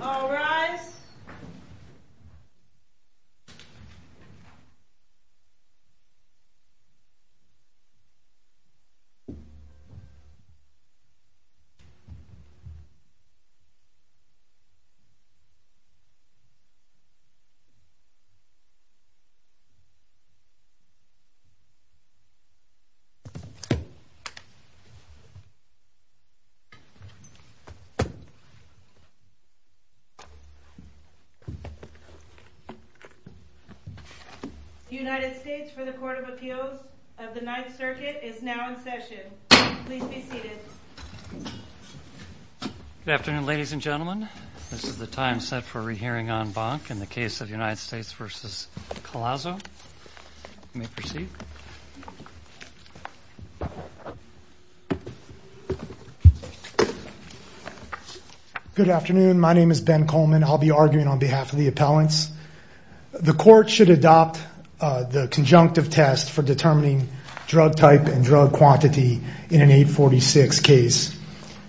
All rise. The United States for the Court of Appeals of the Ninth Circuit is now in session. Please be seated. Good afternoon, ladies and gentlemen. This is the time set for a re-hearing on Bonk in the case of United States v. Collazo. You may proceed. Good afternoon. My name is Ben Coleman. I'll be arguing on behalf of the appellants. The court should adopt the conjunctive test for determining drug type and drug quantity in an 846 case.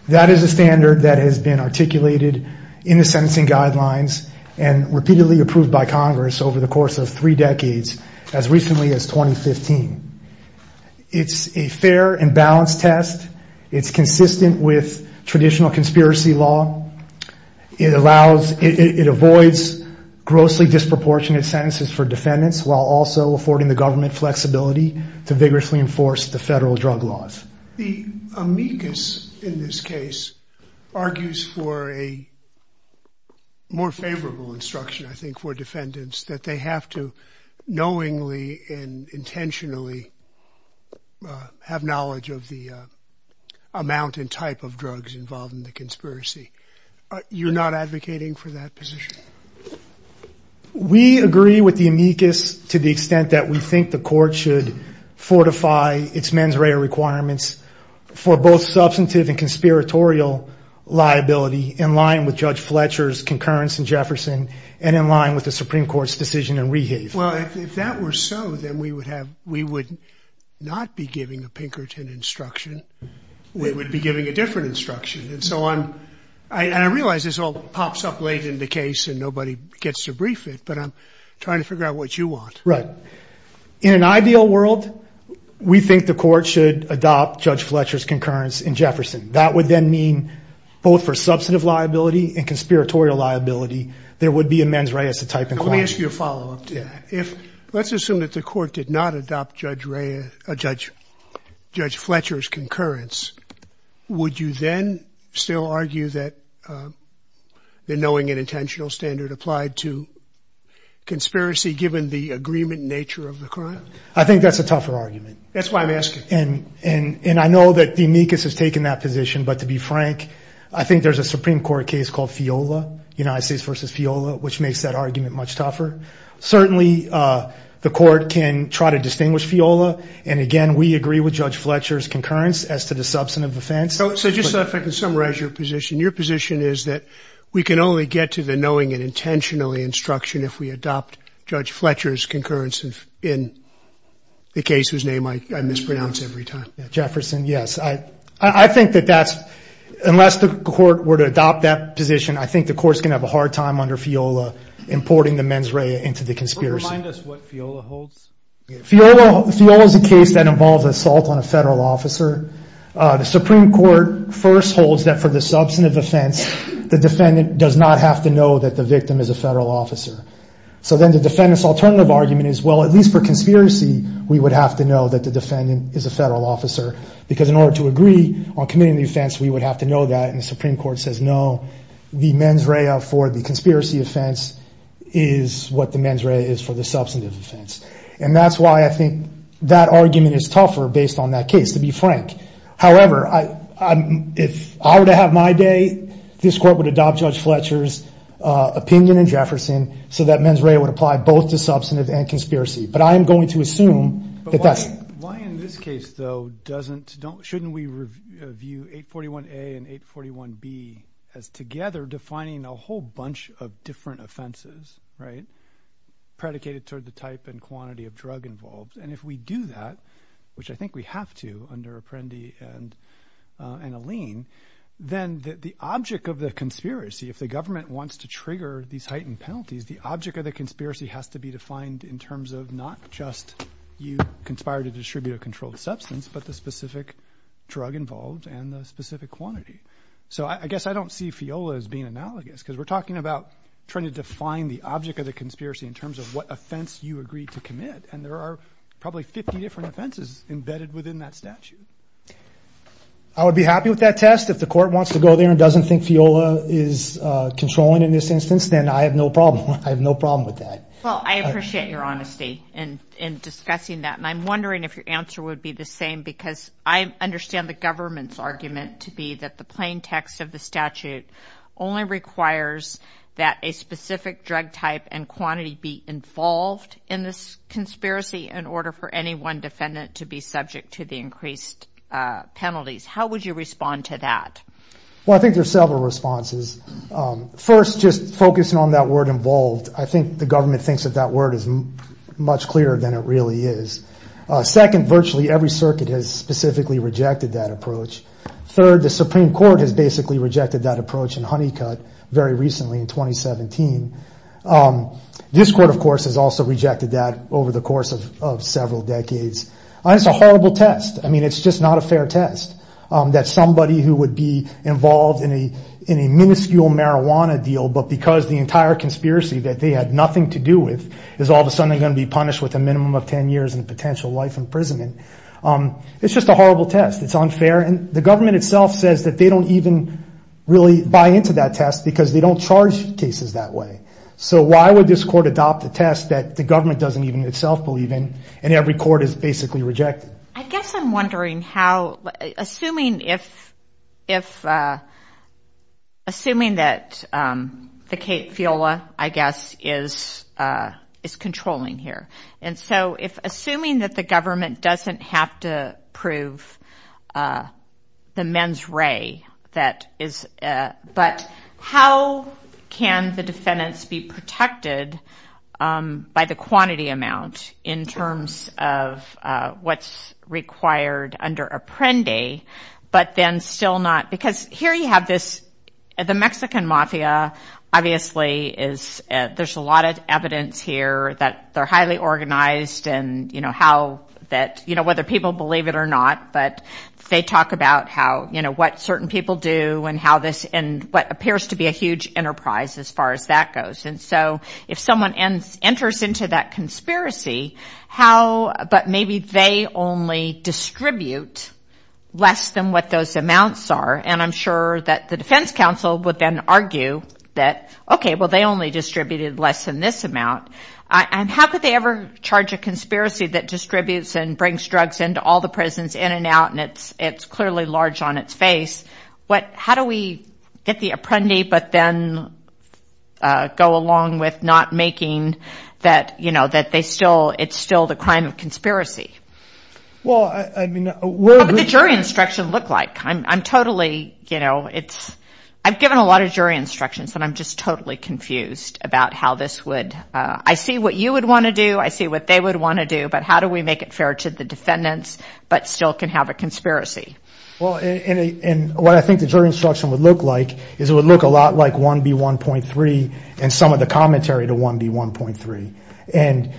That is a standard that has been articulated in the sentencing guidelines and repeatedly approved by Congress over the course of three decades, as recently as 2015. It's a fair and balanced test. It's consistent with traditional conspiracy law. It avoids grossly disproportionate sentences for defendants while also affording the government flexibility to vigorously enforce the federal drug laws. The amicus in this case argues for a more favorable instruction, I think, for defendants, that they have to knowingly and intentionally have knowledge of the amount and type of drugs involved in the conspiracy. You're not advocating for that position? We agree with the amicus to the extent that we think the court should fortify its mens rea requirements for both substantive and conspiratorial liability in line with Judge Fletcher's concurrence in Jefferson and in line with the Supreme Court's decision in Rehave. Well, if that were so, then we would not be giving a Pinkerton instruction. We would be giving a different instruction. And so I realize this all pops up late in the case and nobody gets to brief it, but I'm trying to figure out what you want. Right. In an ideal world, we think the court should adopt Judge Fletcher's concurrence in Jefferson. That would then mean both for substantive liability and conspiratorial liability, there would be a mens rea as a type and quantity. Let me ask you a follow-up to that. If let's assume that the court did not adopt Judge Fletcher's concurrence, would you then still argue that the knowing and intentional standard applied to conspiracy, given the agreement nature of the crime? I think that's a tougher argument. That's why I'm asking. And I know that the amicus has taken that position, but to be frank, I think there's a Supreme Court case called FIOLA, United States versus FIOLA, which makes that argument much tougher. Certainly the court can try to distinguish FIOLA, and again we agree with Judge Fletcher's concurrence as to the substantive offense. So just so I can summarize your position, your position is that we can only get to the knowing and intentional instruction if we adopt Judge Fletcher's concurrence in the case whose name I mispronounce every time. Jefferson, yes. I think that that's, unless the court were to adopt that position, I think the court's going to have a hard time under FIOLA importing the mens rea into the conspiracy. Remind us what FIOLA holds. FIOLA is a case that involves assault on a federal officer. The Supreme Court first holds that for the substantive offense, the defendant does not have to know that the victim is a federal officer. So then the defendant's alternative argument is, well, at least for conspiracy, we would have to know that the defendant is a federal officer, because in order to agree on committing the offense, we would have to know that. And the Supreme Court says, no, the mens rea for the conspiracy offense is what the mens rea is for the substantive offense. And that's why I think that argument is tougher based on that case, to be frank. However, if I were to have my day, this court would adopt Judge Fletcher's opinion in Jefferson so that mens rea would apply both to substantive and conspiracy. But I am going to assume that that's. Why in this case, though, doesn't, shouldn't we review 841A and 841B as together defining a whole bunch of different offenses, right, predicated toward the type and quantity of drug involved? And if we do that, which I think we have to under Apprendi and Alene, then the object of the conspiracy, if the government wants to trigger these heightened penalties, the object of the conspiracy has to be defined in terms of not just you conspired to distribute a controlled substance, but the specific drug involved and the specific quantity. So I guess I don't see FIOLA as being analogous, because we're talking about trying to define the object of the conspiracy in terms of what offense you agreed to commit. And there are probably 50 different offenses embedded within that statute. I would be happy with that test. If the court wants to go there and doesn't think FIOLA is controlling in this instance, then I have no problem. I have no problem with that. Well, I appreciate your honesty in discussing that. And I'm wondering if your answer would be the same, because I understand the government's argument to be that the plain text of the statute only requires that a specific drug type and quantity be involved in this conspiracy in order for any one defendant to be subject to the increased penalties. How would you respond to that? Well, I think there are several responses. First, just focusing on that word involved, I think the government thinks that that word is much clearer than it really is. Second, virtually every circuit has specifically rejected that approach. Third, the Supreme Court has basically rejected that approach in Honeycut very recently in 2017. This court, of course, has also rejected that over the course of several decades. It's a horrible test. I mean, it's just not a fair test that somebody who would be involved in a minuscule marijuana deal, but because the entire conspiracy that they had nothing to do with is all of a sudden going to be punished with a minimum of ten years in potential life imprisonment. It's just a horrible test. It's unfair. And the government itself says that they don't even really buy into that test because they don't charge cases that way. So why would this court adopt a test that the government doesn't even itself believe in, and every court has basically rejected? I guess I'm wondering how, assuming that the Kate Fiola, I guess, is controlling here, and so assuming that the government doesn't have to prove the mens rea, but how can the defendants be protected by the quantity amount in terms of what's required under Apprendi, but then still not, because here you have this, the Mexican mafia, obviously, there's a lot of evidence here that they're highly organized, and whether people believe it or not, but they talk about what certain people do and what appears to be a huge enterprise as far as that goes. And so if someone enters into that conspiracy, but maybe they only distribute less than what those amounts are, and I'm sure that the defense counsel would then argue that, okay, well, they only distributed less than this amount, and how could they ever charge a conspiracy that distributes and brings drugs into all the prisons, in and out, and it's clearly large on its face. How do we get the Apprendi, but then go along with not making that they still, it's still the crime of conspiracy? What would the jury instruction look like? I'm totally, you know, it's, I've given a lot of jury instructions, and I'm just totally confused about how this would, I see what you would want to do, I see what they would want to do, but how do we make it fair to the defendants but still can have a conspiracy? Well, and what I think the jury instruction would look like is it would look a lot like 1B1.3 and some of the commentary to 1B1.3. And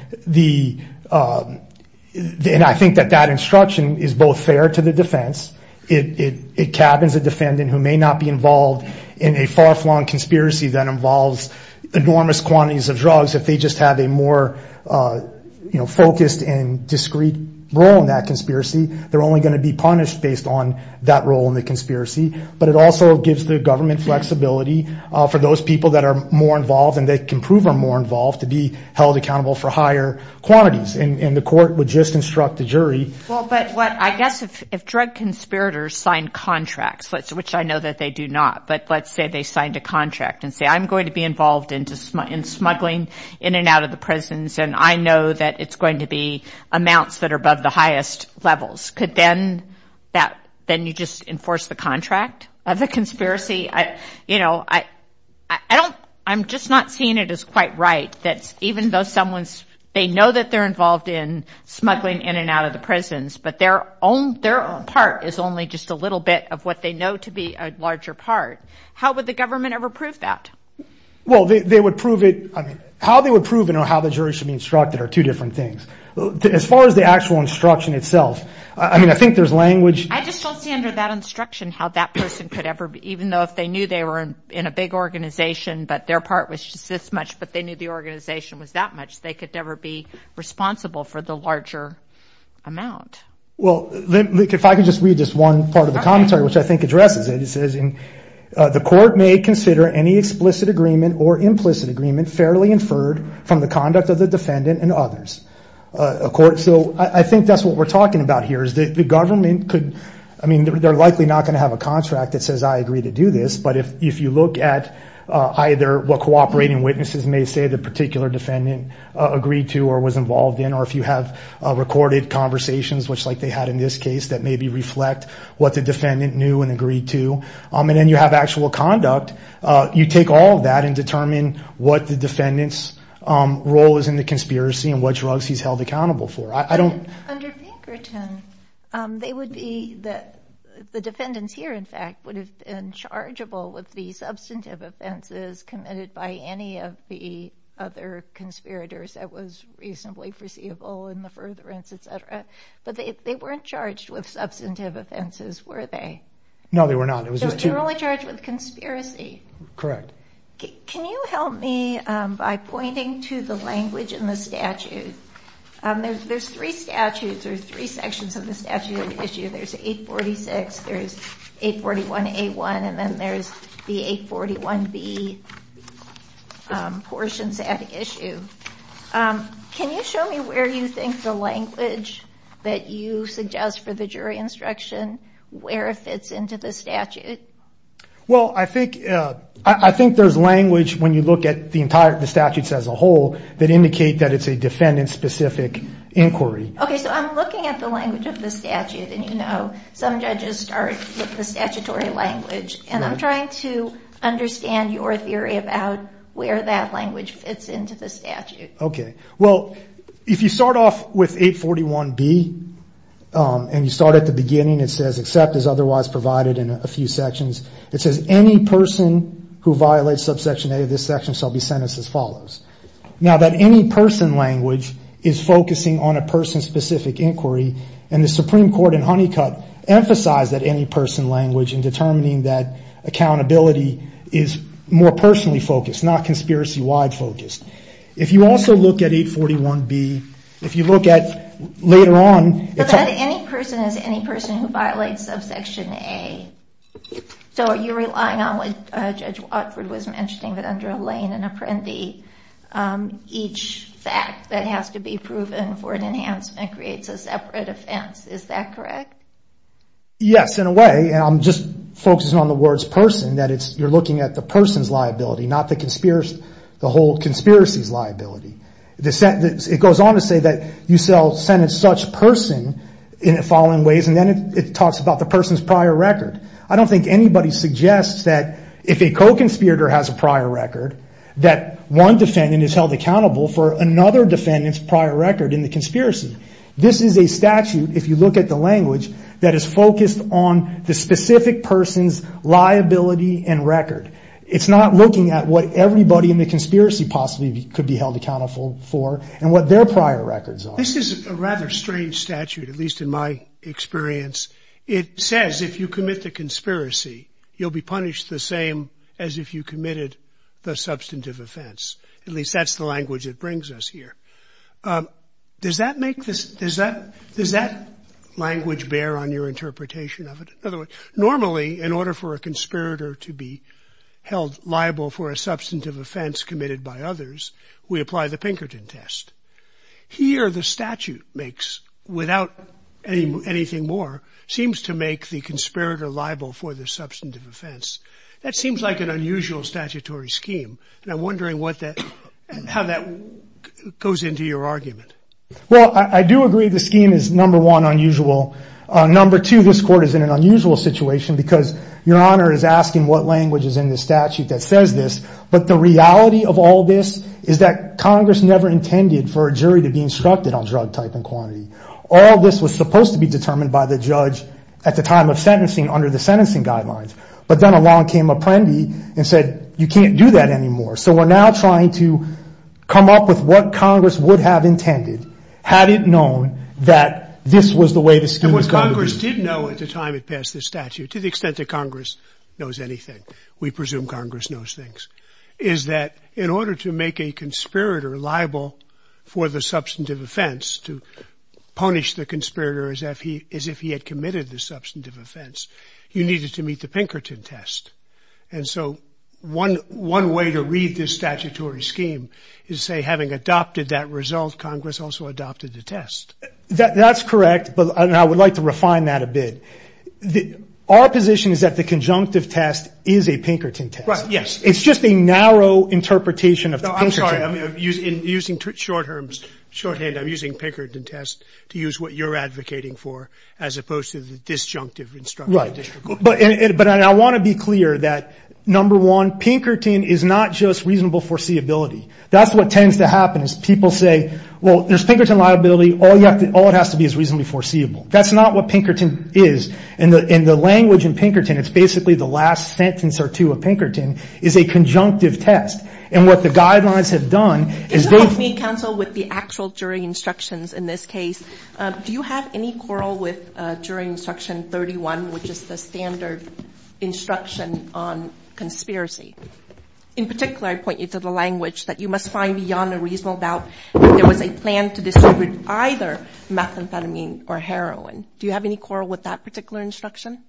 I think that that instruction is both fair to the defense, it cabins a defendant who may not be involved in a far-flung conspiracy that involves enormous quantities of drugs if they just have a more focused and discreet role in that conspiracy. They're only going to be punished based on that role in the conspiracy. But it also gives the government flexibility for those people that are more involved and they can prove are more involved to be held accountable for higher quantities. And the court would just instruct the jury. Well, but what I guess if drug conspirators sign contracts, which I know that they do not, but let's say they signed a contract and say, I'm going to be involved in smuggling in and out of the prisons and I know that it's going to be amounts that are above the highest levels. Could then you just enforce the contract of the conspiracy? You know, I don't, I'm just not seeing it as quite right that even though someone's, they know that they're involved in smuggling in and out of the prisons, but their own part is only just a little bit of what they know to be a larger part. How would the government ever prove that? Well, they would prove it. How they would prove it or how the jury should be instructed are two different things. As far as the actual instruction itself, I mean, I think there's language. I just don't see under that instruction how that person could ever, even though if they knew they were in a big organization, but their part was just this much, but they knew the organization was that much, they could never be responsible for the larger amount. Well, if I could just read this one part of the commentary, which I think addresses it. It says, the court may consider any explicit agreement or implicit agreement fairly inferred from the conduct of the defendant and others. So I think that's what we're talking about here, is that the government could, I mean, they're likely not going to have a contract that says I agree to do this, but if you look at either what cooperating witnesses may say the particular defendant agreed to or was involved in, or if you have recorded conversations, which like they had in this case that maybe reflect what the defendant knew and agreed to, and then you have actual conduct, you take all of that and determine what the defendant's role is in the conspiracy and what drugs he's held accountable for. Under Pinkerton, they would be, the defendants here, in fact, would have been chargeable with the substantive offenses committed by any of the other conspirators that was reasonably foreseeable in the furtherance, et cetera, but they weren't charged with substantive offenses, were they? No, they were not. They were only charged with conspiracy. Correct. Can you help me by pointing to the language in the statute? There's three statutes or three sections of the statute at issue. There's 846, there's 841A1, and then there's the 841B portions at issue. Can you show me where you think the language that you suggest for the jury instruction, where it fits into the statute? Well, I think there's language when you look at the statutes as a whole that indicate that it's a defendant-specific inquiry. Okay, so I'm looking at the language of the statute, and you know, some judges start with the statutory language, and I'm trying to understand your theory about where that language fits into the statute. Okay, well, if you start off with 841B, and you start at the beginning, it says, except as otherwise provided in a few sections, it says, any person who violates subsection A of this section shall be sentenced as follows. Now, that any person language is focusing on a person-specific inquiry, and the Supreme Court in Honeycutt emphasized that any person language in determining that accountability is more personally focused, it's not conspiracy-wide focused. If you also look at 841B, if you look at later on, But that any person is any person who violates subsection A, so are you relying on what Judge Watford was mentioning, that under a lane, an apprendi, each fact that has to be proven for an enhancement creates a separate offense, is that correct? Yes, in a way, and I'm just focusing on the words person, that you're looking at the person's liability, not the whole conspiracy's liability. It goes on to say that you sentence such person in the following ways, and then it talks about the person's prior record. I don't think anybody suggests that if a co-conspirator has a prior record, that one defendant is held accountable for another defendant's prior record in the conspiracy. This is a statute, if you look at the language, that is focused on the specific person's liability and record. It's not looking at what everybody in the conspiracy possibly could be held accountable for and what their prior records are. This is a rather strange statute, at least in my experience. It says if you commit the conspiracy, you'll be punished the same as if you committed the substantive offense. At least that's the language it brings us here. Does that language bear on your interpretation of it? In other words, normally, in order for a conspirator to be held liable for a substantive offense committed by others, we apply the Pinkerton test. Here, the statute makes, without anything more, seems to make the conspirator liable for the substantive offense. That seems like an unusual statutory scheme, and I'm wondering how that goes into your argument. Well, I do agree the scheme is, number one, unusual. Number two, this court is in an unusual situation, because Your Honor is asking what language is in the statute that says this. But the reality of all this is that Congress never intended for a jury to be instructed on drug type and quantity. All this was supposed to be determined by the judge at the time of sentencing under the sentencing guidelines. But then along came Apprendi and said, you can't do that anymore. So we're now trying to come up with what Congress would have intended had it known that this was the way the scheme was going to be. And what Congress did know at the time it passed this statute, to the extent that Congress knows anything, we presume Congress knows things, is that in order to make a conspirator liable for the substantive offense, to punish the conspirator as if he had committed the substantive offense, you needed to meet the Pinkerton test. And so one way to read this statutory scheme is to say, having adopted that result, Congress also adopted the test. That's correct. But I would like to refine that a bit. Our position is that the conjunctive test is a Pinkerton test. Right, yes. It's just a narrow interpretation of the Pinkerton. I'm sorry. I'm using shorthand. I'm using Pinkerton test to use what you're advocating for, as opposed to the disjunctive instruction. Right. But I want to be clear that, number one, Pinkerton is not just reasonable foreseeability. That's what tends to happen is people say, well, there's Pinkerton liability. All it has to be is reasonably foreseeable. That's not what Pinkerton is. And the language in Pinkerton, it's basically the last sentence or two of Pinkerton, is a conjunctive test. And what the guidelines have done is they've – Can you help me, counsel, with the actual jury instructions in this case? Do you have any quarrel with jury instruction 31, which is the standard instruction on conspiracy? In particular, I point you to the language that you must find beyond a reasonable doubt that there was a plan to distribute either methamphetamine or heroin. Do you have any quarrel with that particular instruction?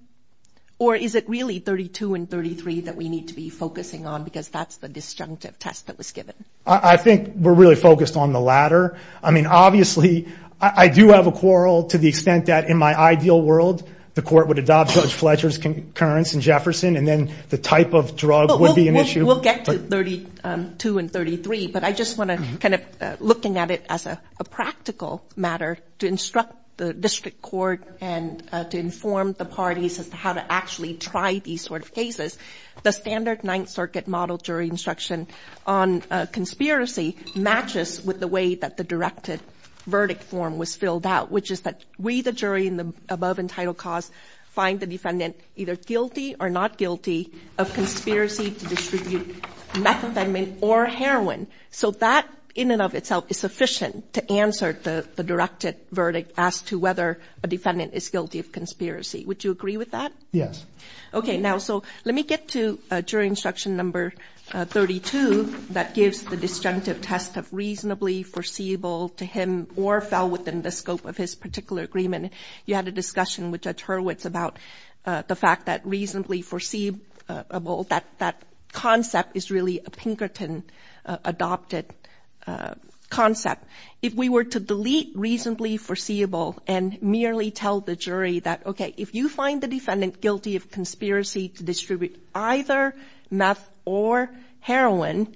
Or is it really 32 and 33 that we need to be focusing on because that's the disjunctive test that was given? I think we're really focused on the latter. I mean, obviously, I do have a quarrel to the extent that, in my ideal world, the court would adopt Judge Fletcher's concurrence in Jefferson and then the type of drug would be an issue. We'll get to 32 and 33, but I just want to kind of looking at it as a practical matter to instruct the district court and to inform the parties as to how to actually try these sort of cases. The standard Ninth Circuit model jury instruction on conspiracy matches with the way that the directed verdict form was filled out, which is that we, the jury in the above entitled cause, find the defendant either guilty or not guilty of conspiracy to distribute methamphetamine or heroin. So that in and of itself is sufficient to answer the directed verdict as to whether a defendant is guilty of conspiracy. Would you agree with that? Yes. Okay, now, so let me get to jury instruction number 32 that gives the disjunctive test of reasonably foreseeable to him or fell within the scope of his particular agreement. You had a discussion with Judge Hurwitz about the fact that reasonably foreseeable, that concept is really a Pinkerton-adopted concept. If we were to delete reasonably foreseeable and merely tell the jury that, okay, if you find the defendant guilty of conspiracy to distribute either meth or heroin,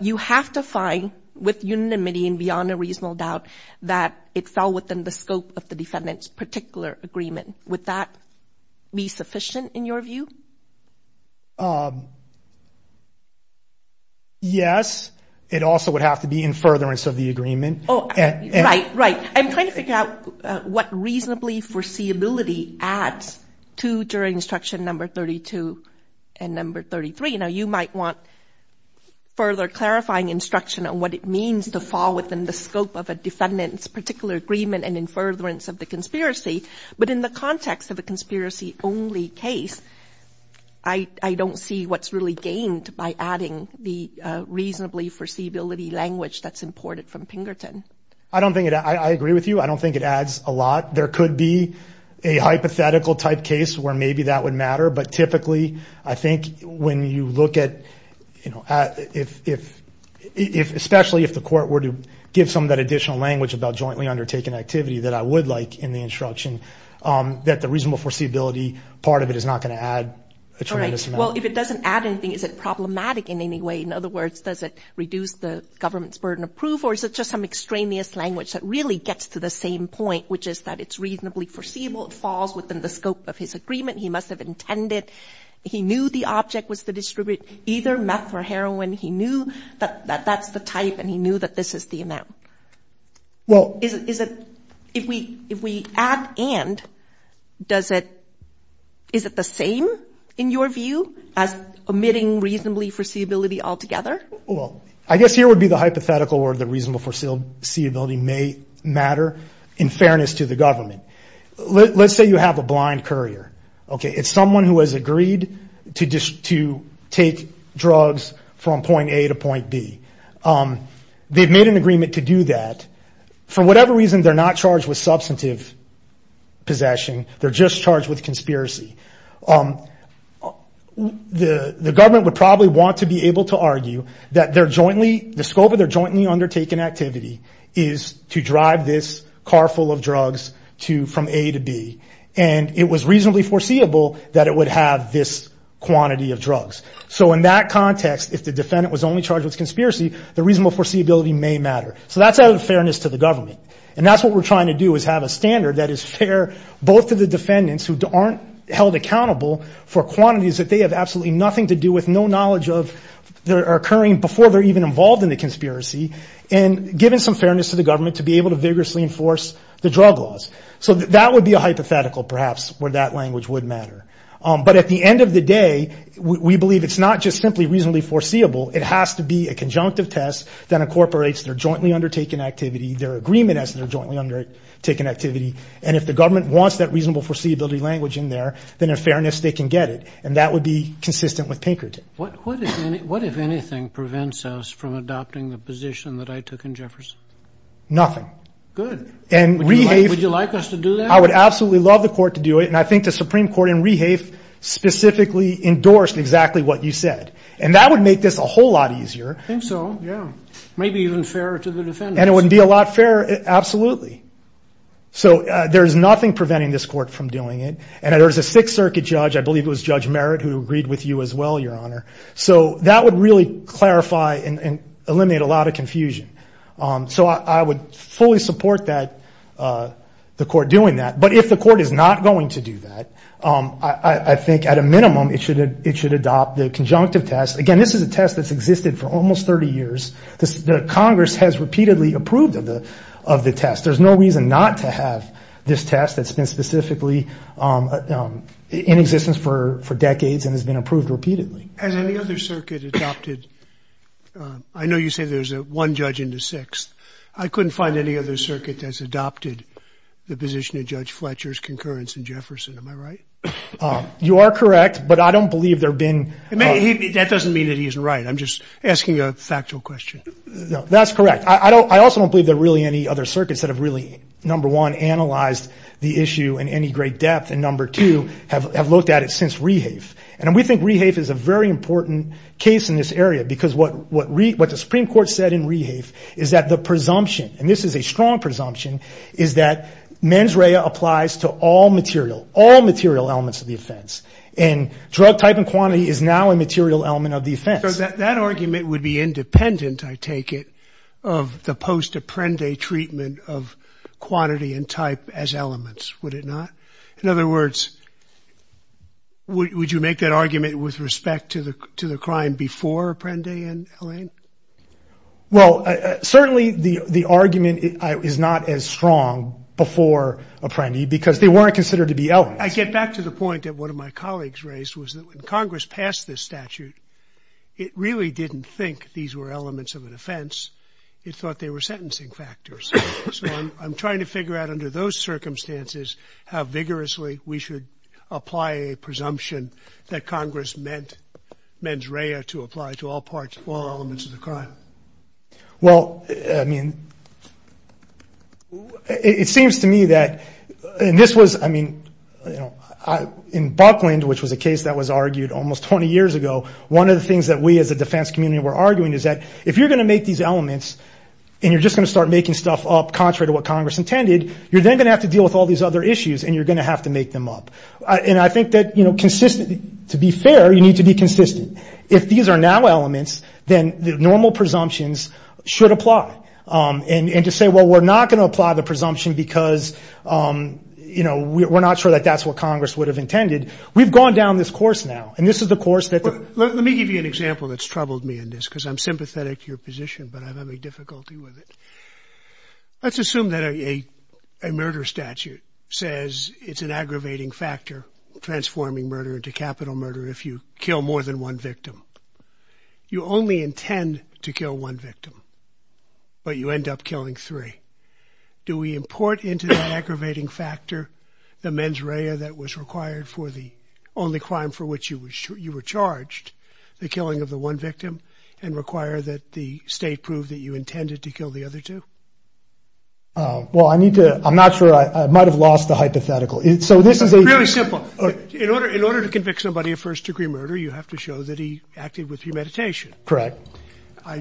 you have to find with unanimity and beyond a reasonable doubt that it fell within the scope of the defendant's particular agreement. Would that be sufficient in your view? Yes. It also would have to be in furtherance of the agreement. Right, right. I'm trying to figure out what reasonably foreseeability adds to jury instruction number 32 and number 33. Now, you might want further clarifying instruction on what it means to fall within the scope of a defendant's particular agreement and in furtherance of the conspiracy, but in the context of a conspiracy-only case, I don't see what's really gained by adding the reasonably foreseeability language that's imported from Pinkerton. I agree with you. I don't think it adds a lot. There could be a hypothetical-type case where maybe that would matter, but typically I think when you look at, you know, especially if the court were to give some of that additional language about jointly undertaking activity that I would like in the instruction, that the reasonable foreseeability part of it is not going to add a tremendous amount. All right. Well, if it doesn't add anything, is it problematic in any way? In other words, does it reduce the government's burden of proof or is it just some extraneous language that really gets to the same point, which is that it's reasonably foreseeable, it falls within the scope of his agreement, he must have intended, he knew the object was to distribute either meth or heroin, he knew that that's the type and he knew that this is the amount? Well, is it – if we add and, does it – is it the same in your view as omitting reasonably foreseeability altogether? Well, I guess here would be the hypothetical or the reasonable foreseeability may matter in fairness to the government. Let's say you have a blind courier, okay. It's someone who has agreed to take drugs from point A to point B. They've made an agreement to do that. For whatever reason, they're not charged with substantive possession. They're just charged with conspiracy. The government would probably want to be able to argue that they're jointly – the scope of their jointly undertaken activity is to drive this car full of drugs from A to B. And it was reasonably foreseeable that it would have this quantity of drugs. So in that context, if the defendant was only charged with conspiracy, the reasonable foreseeability may matter. So that's out of fairness to the government. And that's what we're trying to do is have a standard that is fair both to the defendants who aren't held accountable for quantities that they have absolutely nothing to do with, have no knowledge of that are occurring before they're even involved in the conspiracy, and given some fairness to the government to be able to vigorously enforce the drug laws. So that would be a hypothetical perhaps where that language would matter. But at the end of the day, we believe it's not just simply reasonably foreseeable. It has to be a conjunctive test that incorporates their jointly undertaken activity, their agreement as their jointly undertaken activity. And if the government wants that reasonable foreseeability language in there, then in fairness they can get it. And that would be consistent with Pinkerton. What if anything prevents us from adopting the position that I took in Jefferson? Nothing. Good. Would you like us to do that? I would absolutely love the court to do it, and I think the Supreme Court in Rehafe specifically endorsed exactly what you said. And that would make this a whole lot easier. I think so, yeah. Maybe even fairer to the defendants. And it would be a lot fairer, absolutely. So there's nothing preventing this court from doing it. And there's a Sixth Circuit judge, I believe it was Judge Merritt, who agreed with you as well, Your Honor. So that would really clarify and eliminate a lot of confusion. So I would fully support the court doing that. But if the court is not going to do that, I think at a minimum it should adopt the conjunctive test. Again, this is a test that's existed for almost 30 years. Congress has repeatedly approved of the test. There's no reason not to have this test that's been specifically in existence for decades and has been approved repeatedly. Has any other circuit adopted? I know you say there's one judge in the Sixth. I couldn't find any other circuit that's adopted the position of Judge Fletcher's concurrence in Jefferson. Am I right? You are correct, but I don't believe there have been. That doesn't mean that he's right. I'm just asking a factual question. That's correct. I also don't believe there are really any other circuits that have really, number one, analyzed the issue in any great depth, and number two, have looked at it since Rehafe. And we think Rehafe is a very important case in this area because what the Supreme Court said in Rehafe is that the presumption, and this is a strong presumption, is that mens rea applies to all material, all material elements of the offense. So that argument would be independent, I take it, of the post-Apprendi treatment of quantity and type as elements, would it not? In other words, would you make that argument with respect to the crime before Apprendi and Allain? Well, certainly the argument is not as strong before Apprendi because they weren't considered to be elements. I get back to the point that one of my colleagues raised, was that when Congress passed this statute, it really didn't think these were elements of an offense. It thought they were sentencing factors. So I'm trying to figure out under those circumstances how vigorously we should apply a presumption that Congress meant mens rea to apply to all parts, all elements of the crime. Well, I mean, it seems to me that, and this was, I mean, in Buckland, which was a case that was argued almost 20 years ago, one of the things that we as a defense community were arguing is that if you're going to make these elements and you're just going to start making stuff up contrary to what Congress intended, you're then going to have to deal with all these other issues and you're going to have to make them up. And I think that consistently, to be fair, you need to be consistent. If these are now elements, then the normal presumptions should apply. And to say, well, we're not going to apply the presumption because, you know, we're not sure that that's what Congress would have intended. We've gone down this course now, and this is the course that the- Let me give you an example that's troubled me in this, because I'm sympathetic to your position, but I'm having difficulty with it. Let's assume that a murder statute says it's an aggravating factor, transforming murder into capital murder if you kill more than one victim. You only intend to kill one victim, but you end up killing three. Do we import into that aggravating factor the mens rea that was required for the only crime for which you were charged, the killing of the one victim, and require that the state prove that you intended to kill the other two? Well, I need to- I'm not sure. I might have lost the hypothetical. So this is a- It's really simple. In order to convict somebody of first-degree murder, you have to show that he acted with premeditation. Correct.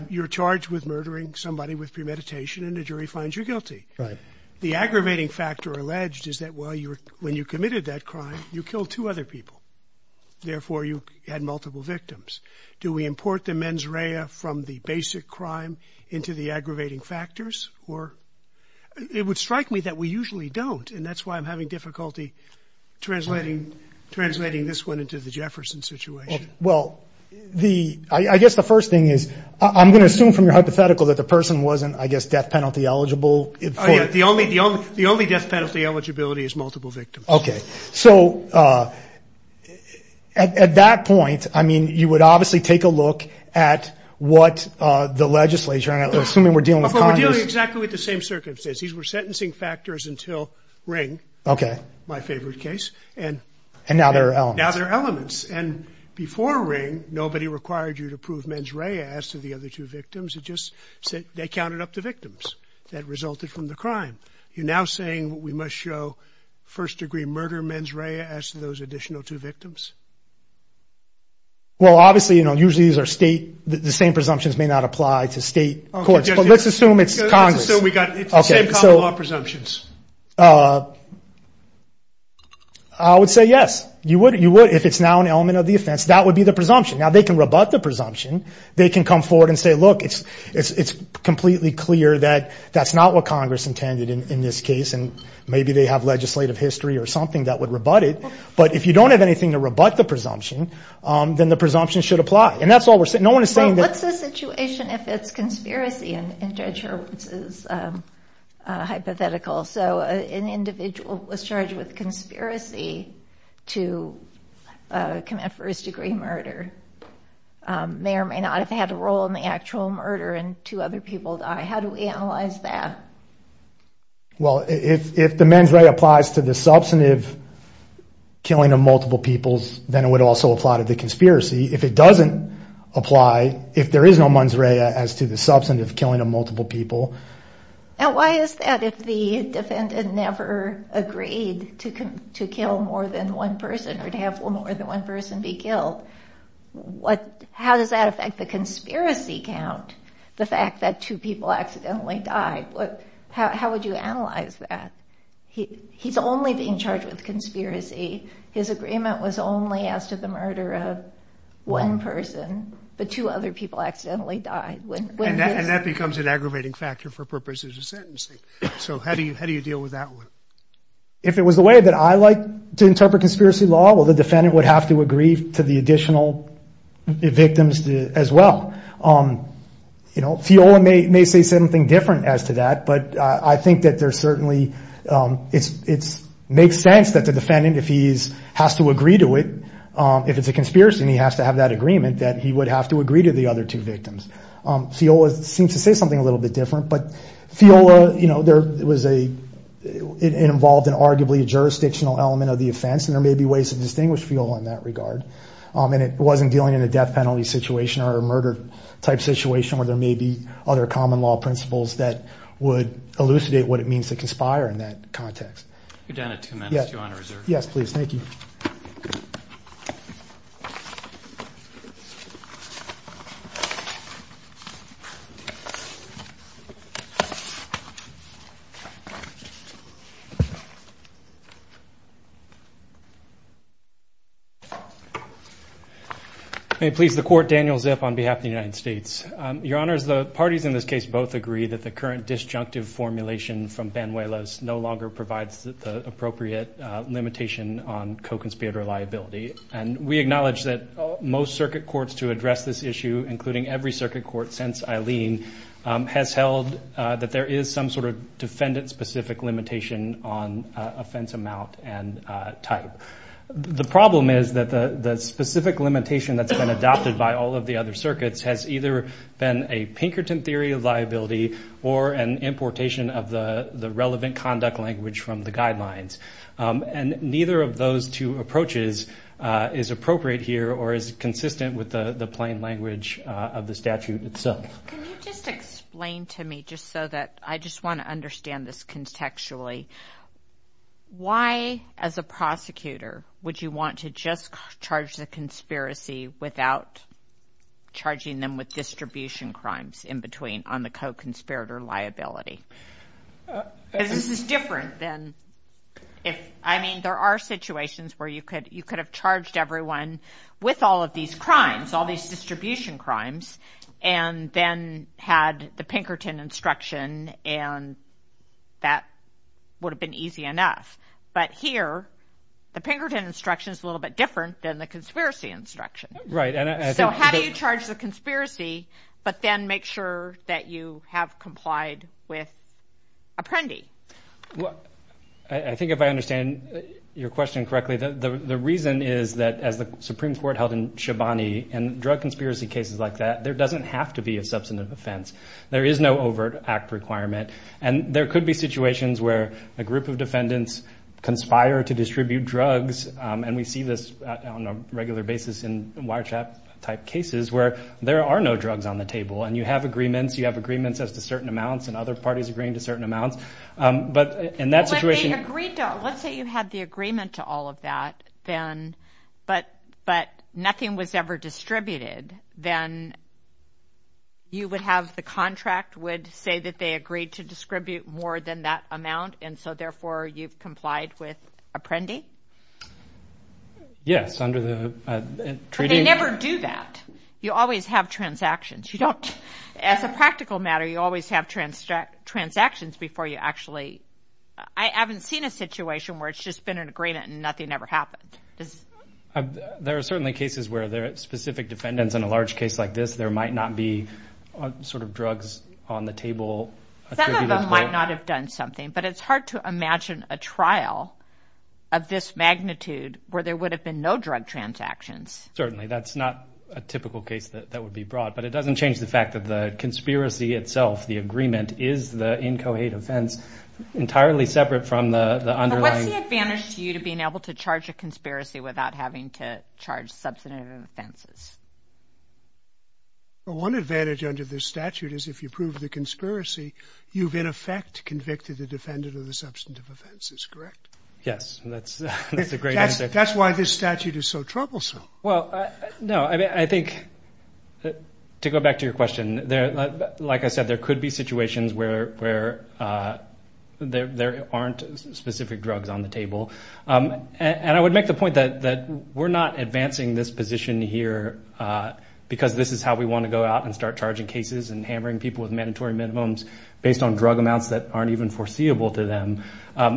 You're charged with murdering somebody with premeditation, and the jury finds you guilty. Right. The aggravating factor alleged is that when you committed that crime, you killed two other people. Therefore, you had multiple victims. Do we import the mens rea from the basic crime into the aggravating factors? It would strike me that we usually don't, and that's why I'm having difficulty translating this one into the Jefferson situation. Well, I guess the first thing is I'm going to assume from your hypothetical that the person wasn't, I guess, death penalty eligible. Oh, yeah. The only death penalty eligibility is multiple victims. Okay. So at that point, I mean, you would obviously take a look at what the legislature, and assuming we're dealing with Congress- But we're dealing exactly with the same circumstances. These were sentencing factors until Ring. Okay. My favorite case. And now there are elements. Now there are elements. And before Ring, nobody required you to prove mens rea as to the other two victims. It just said they counted up the victims that resulted from the crime. You're now saying we must show first-degree murder, mens rea, as to those additional two victims? Well, obviously, you know, usually these are state, the same presumptions may not apply to state courts. But let's assume it's Congress. So we got the same common law presumptions. I would say yes. You would if it's now an element of the offense. That would be the presumption. Now they can rebut the presumption. They can come forward and say, look, it's completely clear that that's not what Congress intended in this case, and maybe they have legislative history or something that would rebut it. But if you don't have anything to rebut the presumption, then the presumption should apply. And that's all we're saying. No one is saying that- hypothetical. So an individual was charged with conspiracy to commit first-degree murder, may or may not have had a role in the actual murder, and two other people died. How do we analyze that? Well, if the mens rea applies to the substantive killing of multiple people, then it would also apply to the conspiracy. If it doesn't apply, if there is no mens rea as to the substantive killing of multiple people. And why is that if the defendant never agreed to kill more than one person or to have more than one person be killed? How does that affect the conspiracy count, the fact that two people accidentally died? How would you analyze that? He's only being charged with conspiracy. His agreement was only as to the murder of one person, but two other people accidentally died. And that becomes an aggravating factor for purposes of sentencing. So how do you deal with that one? If it was the way that I like to interpret conspiracy law, well, the defendant would have to agree to the additional victims as well. Theola may say something different as to that, but I think that there's certainly- it makes sense that the defendant, if he has to agree to it, if it's a conspiracy and he has to have that agreement, that he would have to agree to the other two victims. Theola seems to say something a little bit different, but Theola, you know, there was a- it involved an arguably jurisdictional element of the offense, and there may be ways to distinguish Theola in that regard. And it wasn't dealing in a death penalty situation or a murder-type situation where there may be other common law principles that would elucidate what it means to conspire in that context. You're down to two minutes. Yes, please. Thank you. May it please the Court, Daniel Zip on behalf of the United States. Your Honors, the parties in this case both agree that the current disjunctive formulation from Banuelos no longer provides the appropriate limitation on co-conspirator liability. And we acknowledge that most circuit courts to address this issue, including every circuit court since Eileen, has held that there is some sort of defendant-specific limitation on offense amount and type. The problem is that the specific limitation that's been adopted by all of the other circuits has either been a Pinkerton theory of liability or an importation of the relevant conduct language from the guidelines. And neither of those two approaches is appropriate here or is consistent with the plain language of the statute itself. Can you just explain to me, just so that I just want to understand this contextually, why, as a prosecutor, would you want to just charge the conspiracy without charging them with distribution crimes in between on the co-conspirator liability? Because this is different than if... I mean, there are situations where you could have charged everyone with all of these crimes, all these distribution crimes, and then had the Pinkerton instruction, and that would have been easy enough. But here, the Pinkerton instruction is a little bit different than the conspiracy instruction. So how do you charge the conspiracy but then make sure that you have complied with Apprendi? I think if I understand your question correctly, the reason is that, as the Supreme Court held in Shabani, in drug conspiracy cases like that, there doesn't have to be a substantive offense. There is no overt act requirement. And there could be situations where a group of defendants conspire to distribute drugs, and we see this on a regular basis in wiretrap-type cases, where there are no drugs on the table. And you have agreements. You have agreements as to certain amounts and other parties agreeing to certain amounts. But in that situation... Let's say you had the agreement to all of that, but nothing was ever distributed. Then you would have the contract would say that they agreed to distribute more than that amount, and so therefore you've complied with Apprendi? Yes, under the treaty... But they never do that. You always have transactions. As a practical matter, you always have transactions before you actually... I haven't seen a situation where it's just been an agreement and nothing ever happened. There are certainly cases where there are specific defendants. In a large case like this, there might not be drugs on the table. Some of them might not have done something, but it's hard to imagine a trial of this magnitude where there would have been no drug transactions. Certainly. That's not a typical case that would be brought. But it doesn't change the fact that the conspiracy itself, the agreement, is the inchoate offense entirely separate from the underlying... What's the advantage to you to being able to charge a conspiracy without having to charge substantive offenses? Well, one advantage under this statute is if you prove the conspiracy, you've in effect convicted the defendant of the substantive offenses, correct? Yes, that's a great answer. That's why this statute is so troublesome. Well, no, I think... To go back to your question, like I said, there could be situations where there aren't specific drugs on the table. And I would make the point that we're not advancing this position here because this is how we want to go out and start charging cases and hammering people with mandatory minimums based on drug amounts that aren't even foreseeable to them.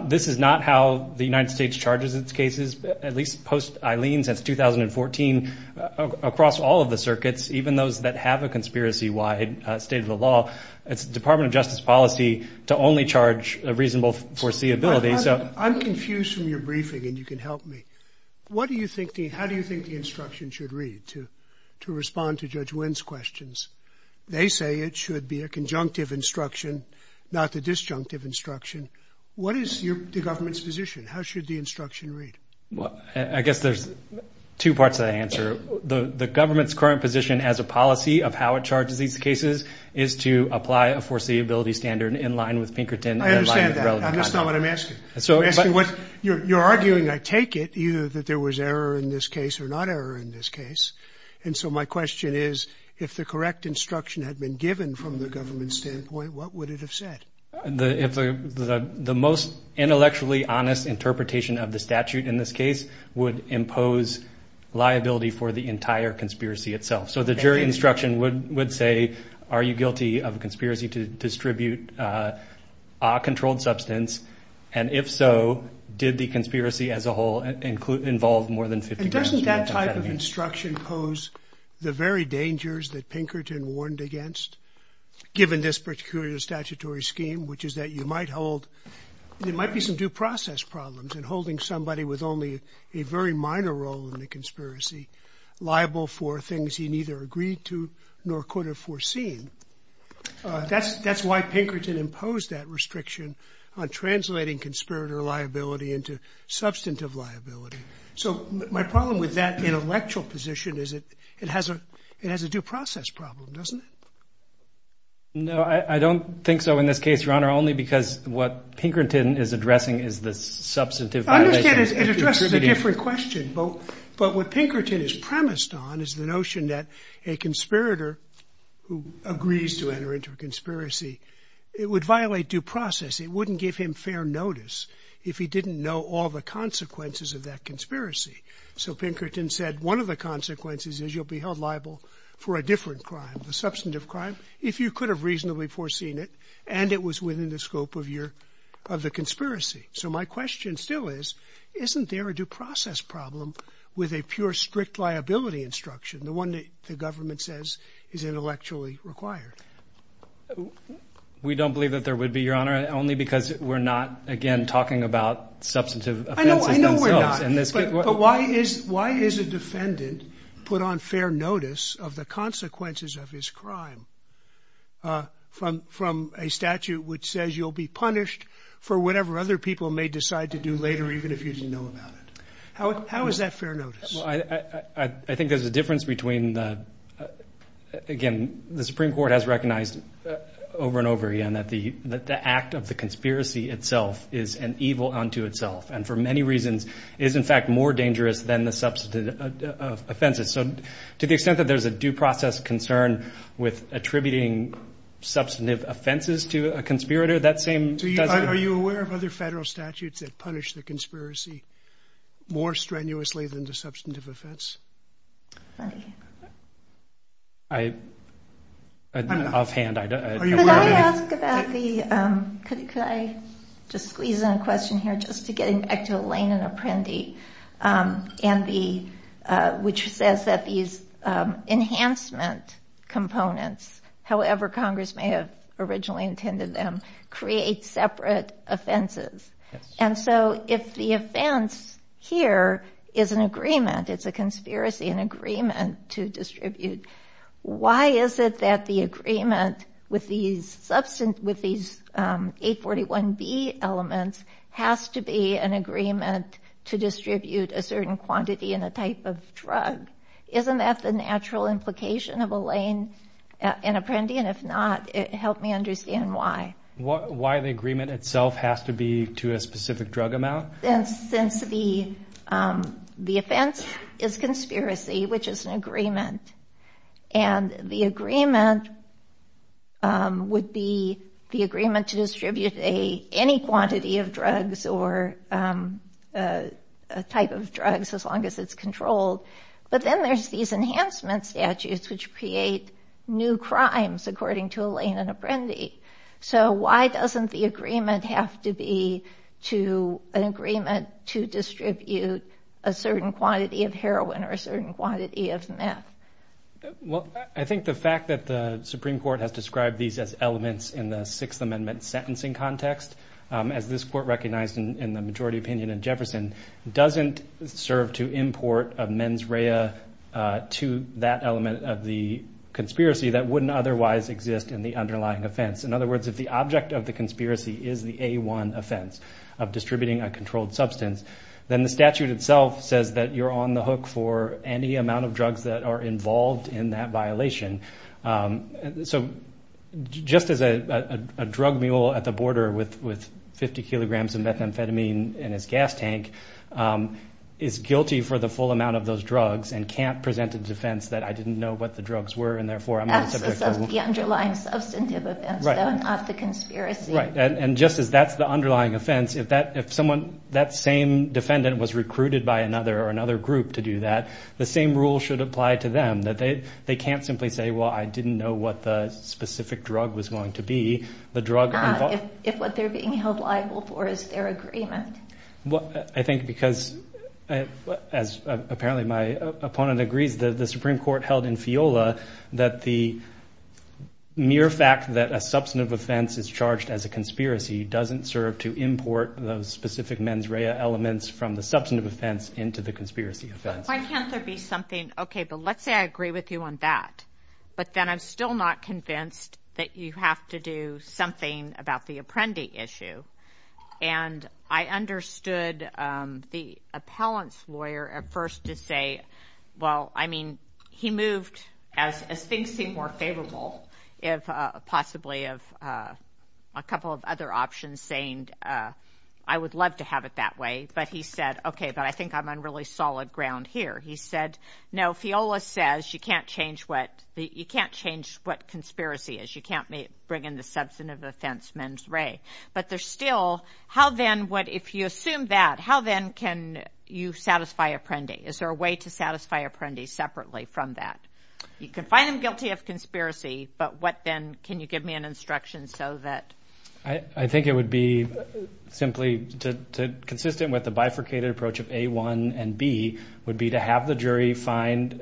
This is not how the United States charges its cases, at least post Eileen, since 2014, across all of the circuits, even those that have a conspiracy-wide state of the law. It's the Department of Justice policy to only charge reasonable foreseeability, so... I'm confused from your briefing, and you can help me. What do you think the... How do you think the instruction should read to respond to Judge Wynn's questions? They say it should be a conjunctive instruction, not the disjunctive instruction. What is the government's position? How should the instruction read? I guess there's two parts to that answer. The government's current position as a policy of how it charges these cases is to apply a foreseeability standard in line with Pinkerton and in line with relevant conduct. I understand that. That's not what I'm asking. You're arguing, I take it, either that there was error in this case or not error in this case. And so my question is, if the correct instruction had been given from the government's standpoint, what would it have said? The most intellectually honest interpretation of the statute in this case would impose liability for the entire conspiracy itself. So the jury instruction would say, are you guilty of conspiracy to distribute a controlled substance? And if so, did the conspiracy as a whole involve more than 50 grams... But doesn't that type of instruction pose the very dangers that Pinkerton warned against, given this particular statutory scheme, which is that you might hold... There might be some due process problems in holding somebody with only a very minor role in the conspiracy liable for things he neither agreed to nor could have foreseen. That's why Pinkerton imposed that restriction on translating conspirator liability into substantive liability. So my problem with that intellectual position is it has a due process problem, doesn't it? No, I don't think so in this case, Your Honor, only because what Pinkerton is addressing is the substantive violation... I understand it addresses a different question, but what Pinkerton is premised on is the notion that a conspirator who agrees to enter into a conspiracy, it would violate due process. It wouldn't give him fair notice if he didn't know all the consequences of that conspiracy. So Pinkerton said one of the consequences is you'll be held liable for a different crime, a substantive crime, if you could have reasonably foreseen it and it was within the scope of the conspiracy. So my question still is, isn't there a due process problem with a pure strict liability instruction, is intellectually required? We don't believe that there would be, Your Honor, only because we're not, again, talking about substantive offenses themselves. I know we're not, but why is a defendant put on fair notice of the consequences of his crime from a statute which says you'll be punished for whatever other people may decide to do later even if you didn't know about it? How is that fair notice? I think there's a difference between... Again, the Supreme Court has recognized over and over again that the act of the conspiracy itself is an evil unto itself and for many reasons is in fact more dangerous than the substantive offenses. So to the extent that there's a due process concern with attributing substantive offenses to a conspirator, that same... Are you aware of other federal statutes that punish the conspiracy more strenuously than the substantive offense? Let me... I... Offhand, I don't... Could I ask about the... Could I just squeeze in a question here just to get back to Elaine and Apprendi and the... which says that these enhancement components, however Congress may have originally intended them, create separate offenses. And so if the offense here is an agreement, it's a conspiracy, an agreement to distribute, why is it that the agreement with these 841B elements has to be an agreement to distribute a certain quantity and a type of drug? Isn't that the natural implication of Elaine and Apprendi? And if not, help me understand why. Why the agreement itself has to be to a specific drug amount? Since the offense is conspiracy, which is an agreement, and the agreement would be the agreement to distribute any quantity of drugs or a type of drugs as long as it's controlled. But then there's these enhancement statutes which create new crimes according to Elaine and Apprendi. So why doesn't the agreement have to be to an agreement to distribute a certain quantity of heroin or a certain quantity of meth? Well, I think the fact that the Supreme Court has described these as elements in the Sixth Amendment sentencing context, as this Court recognized in the majority opinion in Jefferson, doesn't serve to import a mens rea to that element of the conspiracy that wouldn't otherwise exist in the underlying offense. In other words, if the object of the conspiracy is the A-1 offense of distributing a controlled substance, then the statute itself says that you're on the hook for any amount of drugs that are involved in that violation. So just as a drug mule at the border with 50 kilograms of methamphetamine in his gas tank is guilty for the full amount of those drugs and can't present a defense that I didn't know what the drugs were and therefore I'm not a subject... That's the underlying substantive offense, though, not the conspiracy. Right, and just as that's the underlying offense, if that same defendant was recruited by another or another group to do that, the same rule should apply to them, that they can't simply say, well, I didn't know what the specific drug was going to be. If what they're being held liable for is their agreement. Well, I think because, as apparently my opponent agrees, the Supreme Court held in FIOLA that the mere fact that a substantive offense is charged as a conspiracy doesn't serve to import those specific mens rea elements from the substantive offense into the conspiracy offense. Why can't there be something... Okay, but let's say I agree with you on that, but then I'm still not convinced that you have to do something about the Apprendi issue. And I understood the appellant's lawyer at first to say, well, I mean, he moved... As things seem more favorable, possibly of a couple of other options, saying I would love to have it that way. But he said, okay, but I think I'm on really solid ground here. He said, no, FIOLA says you can't change what conspiracy is. You can't bring in the substantive offense mens rea. But there's still... How then, if you assume that, how then can you satisfy Apprendi? Is there a way to satisfy Apprendi separately from that? You can find him guilty of conspiracy, but what then? Can you give me an instruction so that... I think it would be simply consistent with the bifurcated approach of A1 and B, would be to have the jury find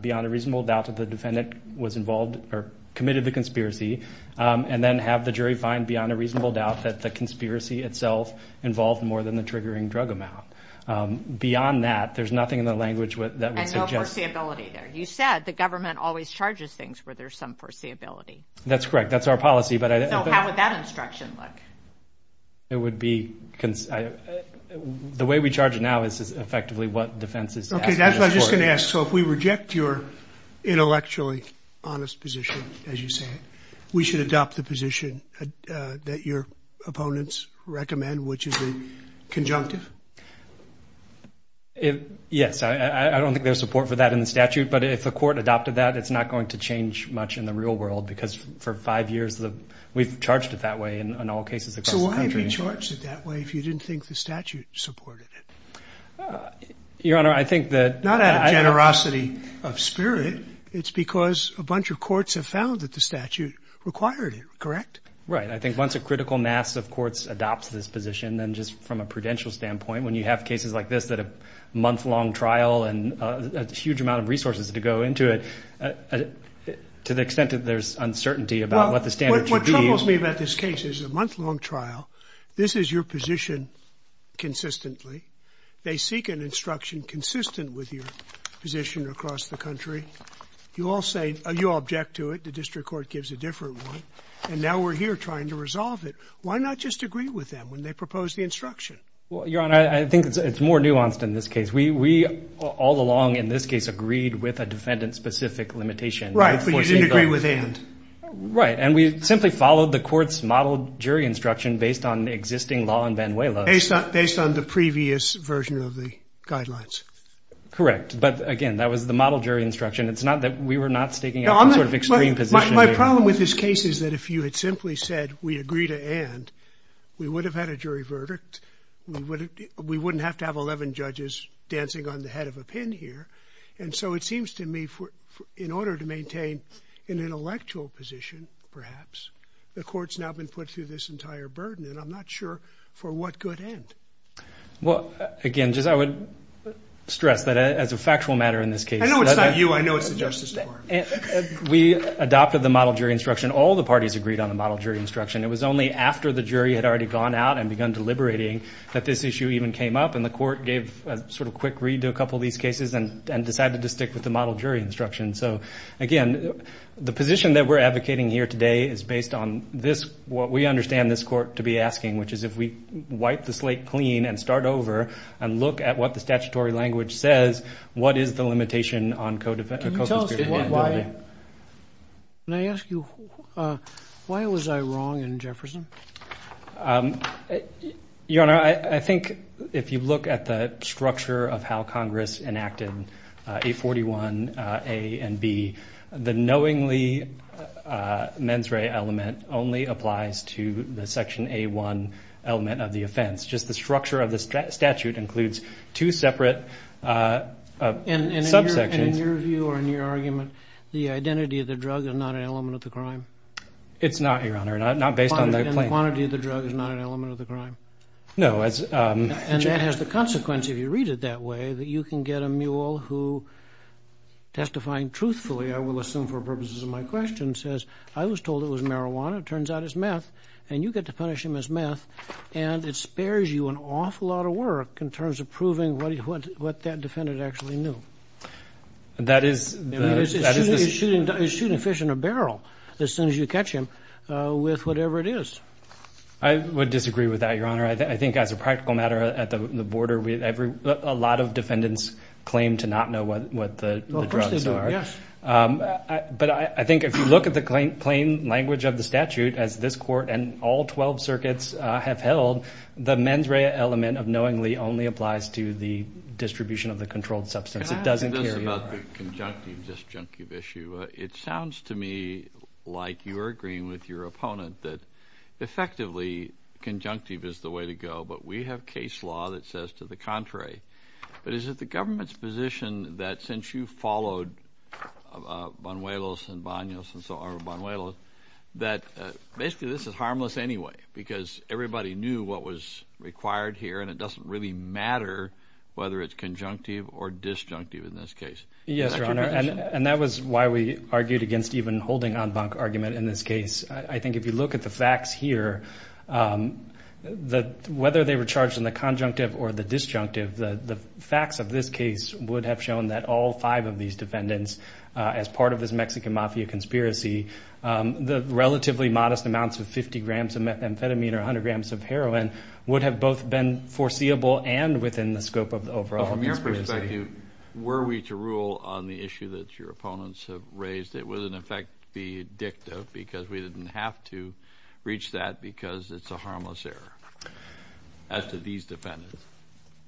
beyond a reasonable doubt that the defendant was involved or committed the conspiracy, and then have the jury find beyond a reasonable doubt that the conspiracy itself involved more than the triggering drug amount. Beyond that, there's nothing in the language that would suggest... And no foreseeability there. You said the government always charges things where there's some foreseeability. That's correct. That's our policy, but... So how would that instruction look? It would be... The way we charge it now is effectively what defense is asking for. Okay, that's what I was just going to ask. So if we reject your intellectually honest position, as you say, we should adopt the position that your opponents recommend, which is the conjunctive? Yes. I don't think there's support for that in the statute, but if the court adopted that, it's not going to change much in the real world because for five years, we've charged it that way in all cases across the country. So why have you charged it that way if you didn't think the statute supported it? Your Honor, I think that... Not out of generosity of spirit. It's because a bunch of courts have found that the statute required it, correct? Right. I think once a critical mass of courts adopts this position, then just from a prudential standpoint, when you have cases like this that a month-long trial and a huge amount of resources to go into it, to the extent that there's uncertainty about what the standards should be... What troubles me about this case is a month-long trial. This is your position consistently. They seek an instruction consistent with your position across the country. You all say... You all object to it. The district court gives a different one. And now we're here trying to resolve it. Why not just agree with them when they propose the instruction? Your Honor, I think it's more nuanced in this case. We all along in this case agreed with a defendant-specific limitation. Right. But you didn't agree with and. Right. And we simply followed the court's model jury instruction based on existing law in Vanuelos. Based on the previous version of the guidelines. Correct. But, again, that was the model jury instruction. It's not that we were not staking out some sort of extreme position here. My problem with this case is that if you had simply said we agree to and, we would have had a jury verdict. We wouldn't have to have 11 judges dancing on the head of a pin here and so it seems to me in order to maintain an intellectual position, perhaps, the court's now been put through this entire burden and I'm not sure for what good end. Well, again, just I would stress that as a factual matter in this case. I know it's not you. I know it's the Justice Department. We adopted the model jury instruction. All the parties agreed on the model jury instruction. It was only after the jury had already gone out and begun deliberating that this issue even came up and the court gave a sort of quick read to a couple of these cases and decided to stick with the model jury instruction. So, again, the position that we're advocating here today is based on this, what we understand this court to be asking which is if we wipe the slate clean and start over and look at what the statutory language says, what is the limitation on co-defense? Can you tell us why, can I ask you, why was I wrong in Jefferson? Your Honor, I think if you look at the structure of how Congress enacted 841A and B, the knowingly mens re element only applies to the section A1 element of the offense. Just the structure of the statute includes two separate subsections. And in your view or in your argument, the identity of the drug is not an element of the crime? It's not, Your Honor. And the quantity of the drug is not an element of the crime? No. And that has the consequence, if you read it that way, that you can get a mule who testifying truthfully, I will assume for purposes of my question, says, I was told it was marijuana, turns out it's meth, and you get to punish him as meth, and it spares you an awful lot of work in terms of proving what that defendant actually knew. That is the... I mean, he's shooting fish in a barrel as soon as you catch him with whatever it is. I would disagree with that, Your Honor. I think as a practical matter at the border, a lot of defendants claim to not know Well, of course they do, yes. But I think if you look at the plain language of the statute, as this Court and all 12 circuits have held, the mens rea element of knowingly only applies to the distribution of the controlled substance. It doesn't care... Can I ask you this about the conjunctive, disjunctive issue? It sounds to me like you're agreeing with your opponent that effectively, conjunctive is the way to go, but we have case law that says that conjunctive is to the contrary. But is it the government's position that since you followed Banuelos and Banos and so on, or Banuelos, that basically this is harmless anyway because everybody knew what was required here and it doesn't really matter whether it's conjunctive or disjunctive in this case? Yes, Your Honor. And that was why even holding en banc argument in this case. I think if you look at the facts here, whether they were charged in the conjunctive or the disjunctive is a different matter. The facts of this case would have shown that all five of these defendants, as part of this Mexican Mafia conspiracy, the relatively modest amounts of 50 grams of amphetamine or 100 grams of heroin would have both been foreseeable and within the scope of the overall conspiracy. From your perspective, were we to rule on the issue that your opponents to reach that because it's a harmless error as to these defendants.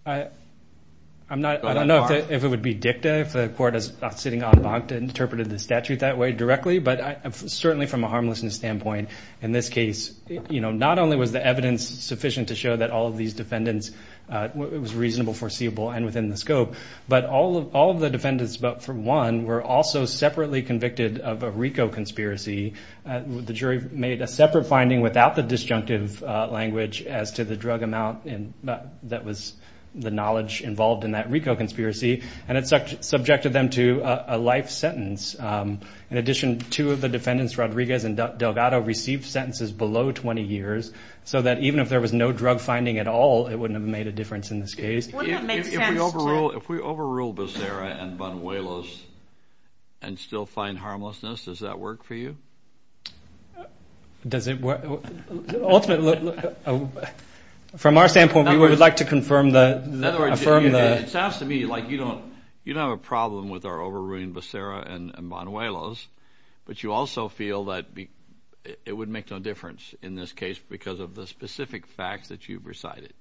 I don't think that's the case. I don't think that's the case. I don't think that's the case. I don't know if it would be dicta if the court is sitting en banc to interpret the statute that way directly. But certainly from a harmlessness standpoint in this case, not only was the evidence sufficient to show that all of these defendants it was reasonable, foreseeable, and within the scope, but all of the defendants were also separately convicted of a RICO conspiracy. The jury made a separate finding without the disjunctive language as to the drug amount that was that was that was that was the knowledge involved in that RICO conspiracy and it subjected them to a life sentence. In addition, two of the defendants, Rodriguez and Delgado, received sentences below 20 years so that even if there was no drug finding at all, it wouldn't have made a difference in this case. Wouldn't it make sense to If we overrule If we overrule Becerra and Banuelos Does it work? Ultimately, from our standpoint, we would like to confirm that the defendant was convicted of a RICO conspiracy and the defendant was convicted of a RICO conspiracy In other words, it sounds to me like you don't you don't have a problem with our overruling Becerra and Banuelos but you also feel that it would make no difference in this case because of the specific facts that you've recited.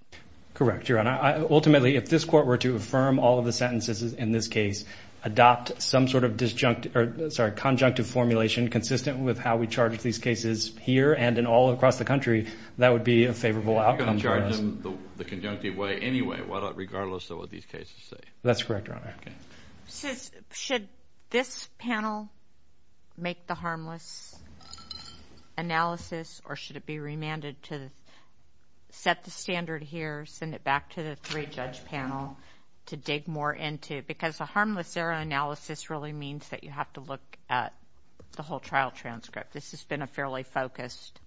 Correct, Your Honor. Ultimately, if this court were to affirm all of the sentences in this case, adopt some sort of disjunct sorry, conjunctive formulation consistent with how we charge these cases here and in all across the country, that would be a favorable outcome for us. In the conjunctive way, anyway, regardless of what these cases say. That's correct, Your Honor. Should this panel make the harmless analysis or should it be remanded to set the standard here send it back to the three-judge panel to dig more into error analysis really means that you have to look at the whole trial transcript. This has been a fairly focused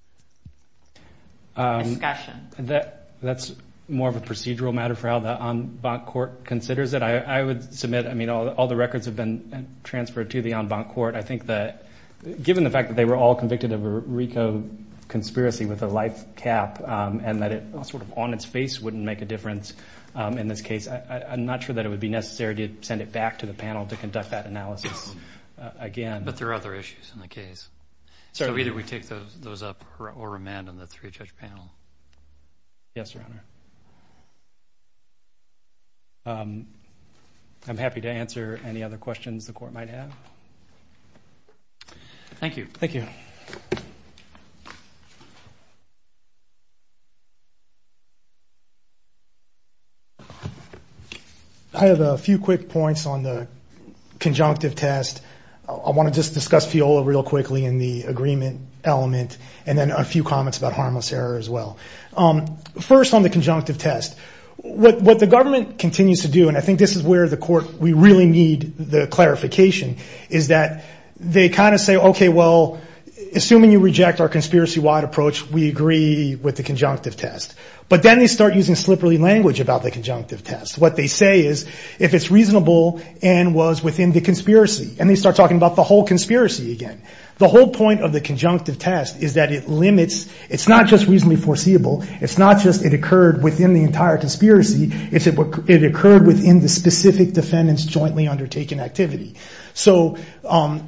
discussion. The the the the the the the 7 facts out there. But I think that's more of a procedural matter for how Court considers it. I would submit that all of the records have been transferred to the court. Given the fact that they were convicted of a RICO espiracy with a life cap and that it wouldn't make a difference in this case, I'm not sure it would be necessary to send it back to the panel to conduct that analysis again. I'm happy to answer any other questions the court might have. Thank you. Thank you. I have a few quick points on the conjunctive test. I want to discuss FIOLA quickly in the agreement element and a few comments about harmless error as well. First on the conjunctive test, what the judges do is say assuming you reject our conspiracy-wide approach, we agree with the conjunctive test. They start using slipper ly language. They start talking about the whole conspiracy again. The whole point of the conjunctive test is it's not just reasonably fair. the specific defendants jointly undertaking activity.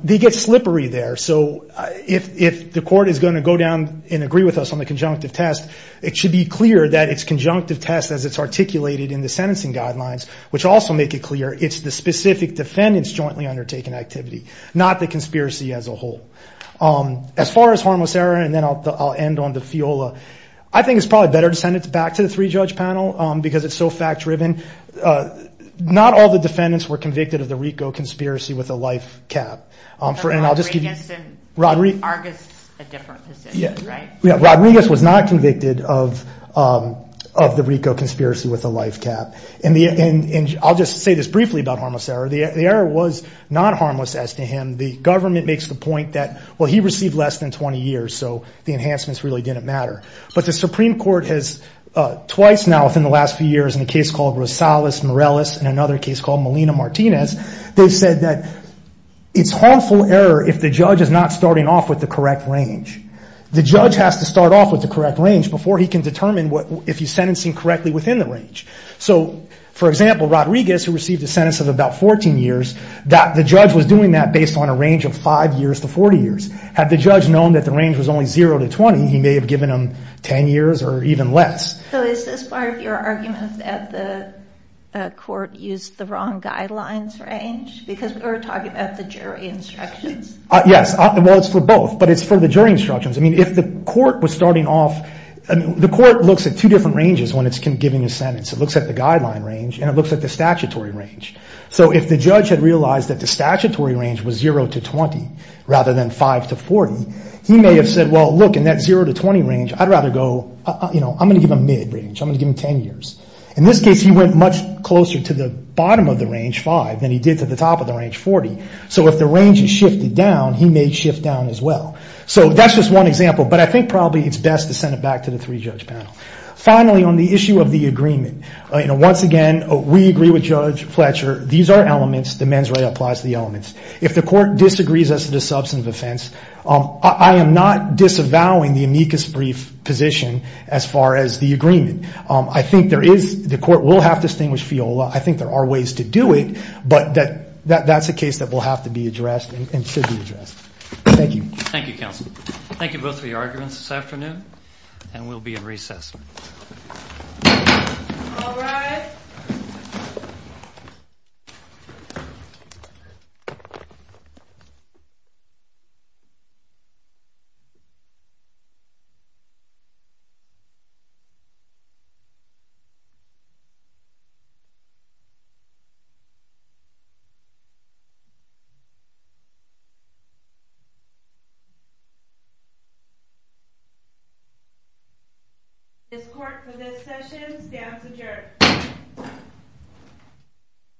They get slippery there. If the court is going to agree with us on the conjunctive test, it should be clear it's articulated in the sentencing guidelines. It's the specific defendants jointly undertaking activity. Not the conspiracy as a whole. As far as harmless error, I think it's better to send it back to the three-judge panel. Not all the defendants were convicted of the RICO conspiracy with a life cap. Rodriguez was not convicted of the RICO conspiracy with a life cap. I will say this briefly. The error was not harmless. He received less than 20 years. The Supreme Court has twice said it's harmful error if the judge is not starting off with the correct range. The judge has to start off with the correct range. For example, Rodriguez was doing that based on a range of five years to 40 years. Had the judge known that the range was only zero to 20 years, he may have given him a sentence. It looks at the statutory range. If the judge realized that it was zero to 20 years, he may have said I would rather give him ten years. In this case, he went closer to the bottom of the range. If the range shifted down, he may shift down as well. Finally, on the issue of the agreement, we agree with Judge Fletcher that these are different cases. The court will have to distinguish Fiola. I think there are ways to do it, but that is a case that will have to be addressed. Thank you. Thank you, counsel. Thank you both for your arguments this afternoon. We will be in court for session. This court for this session stands adjourned.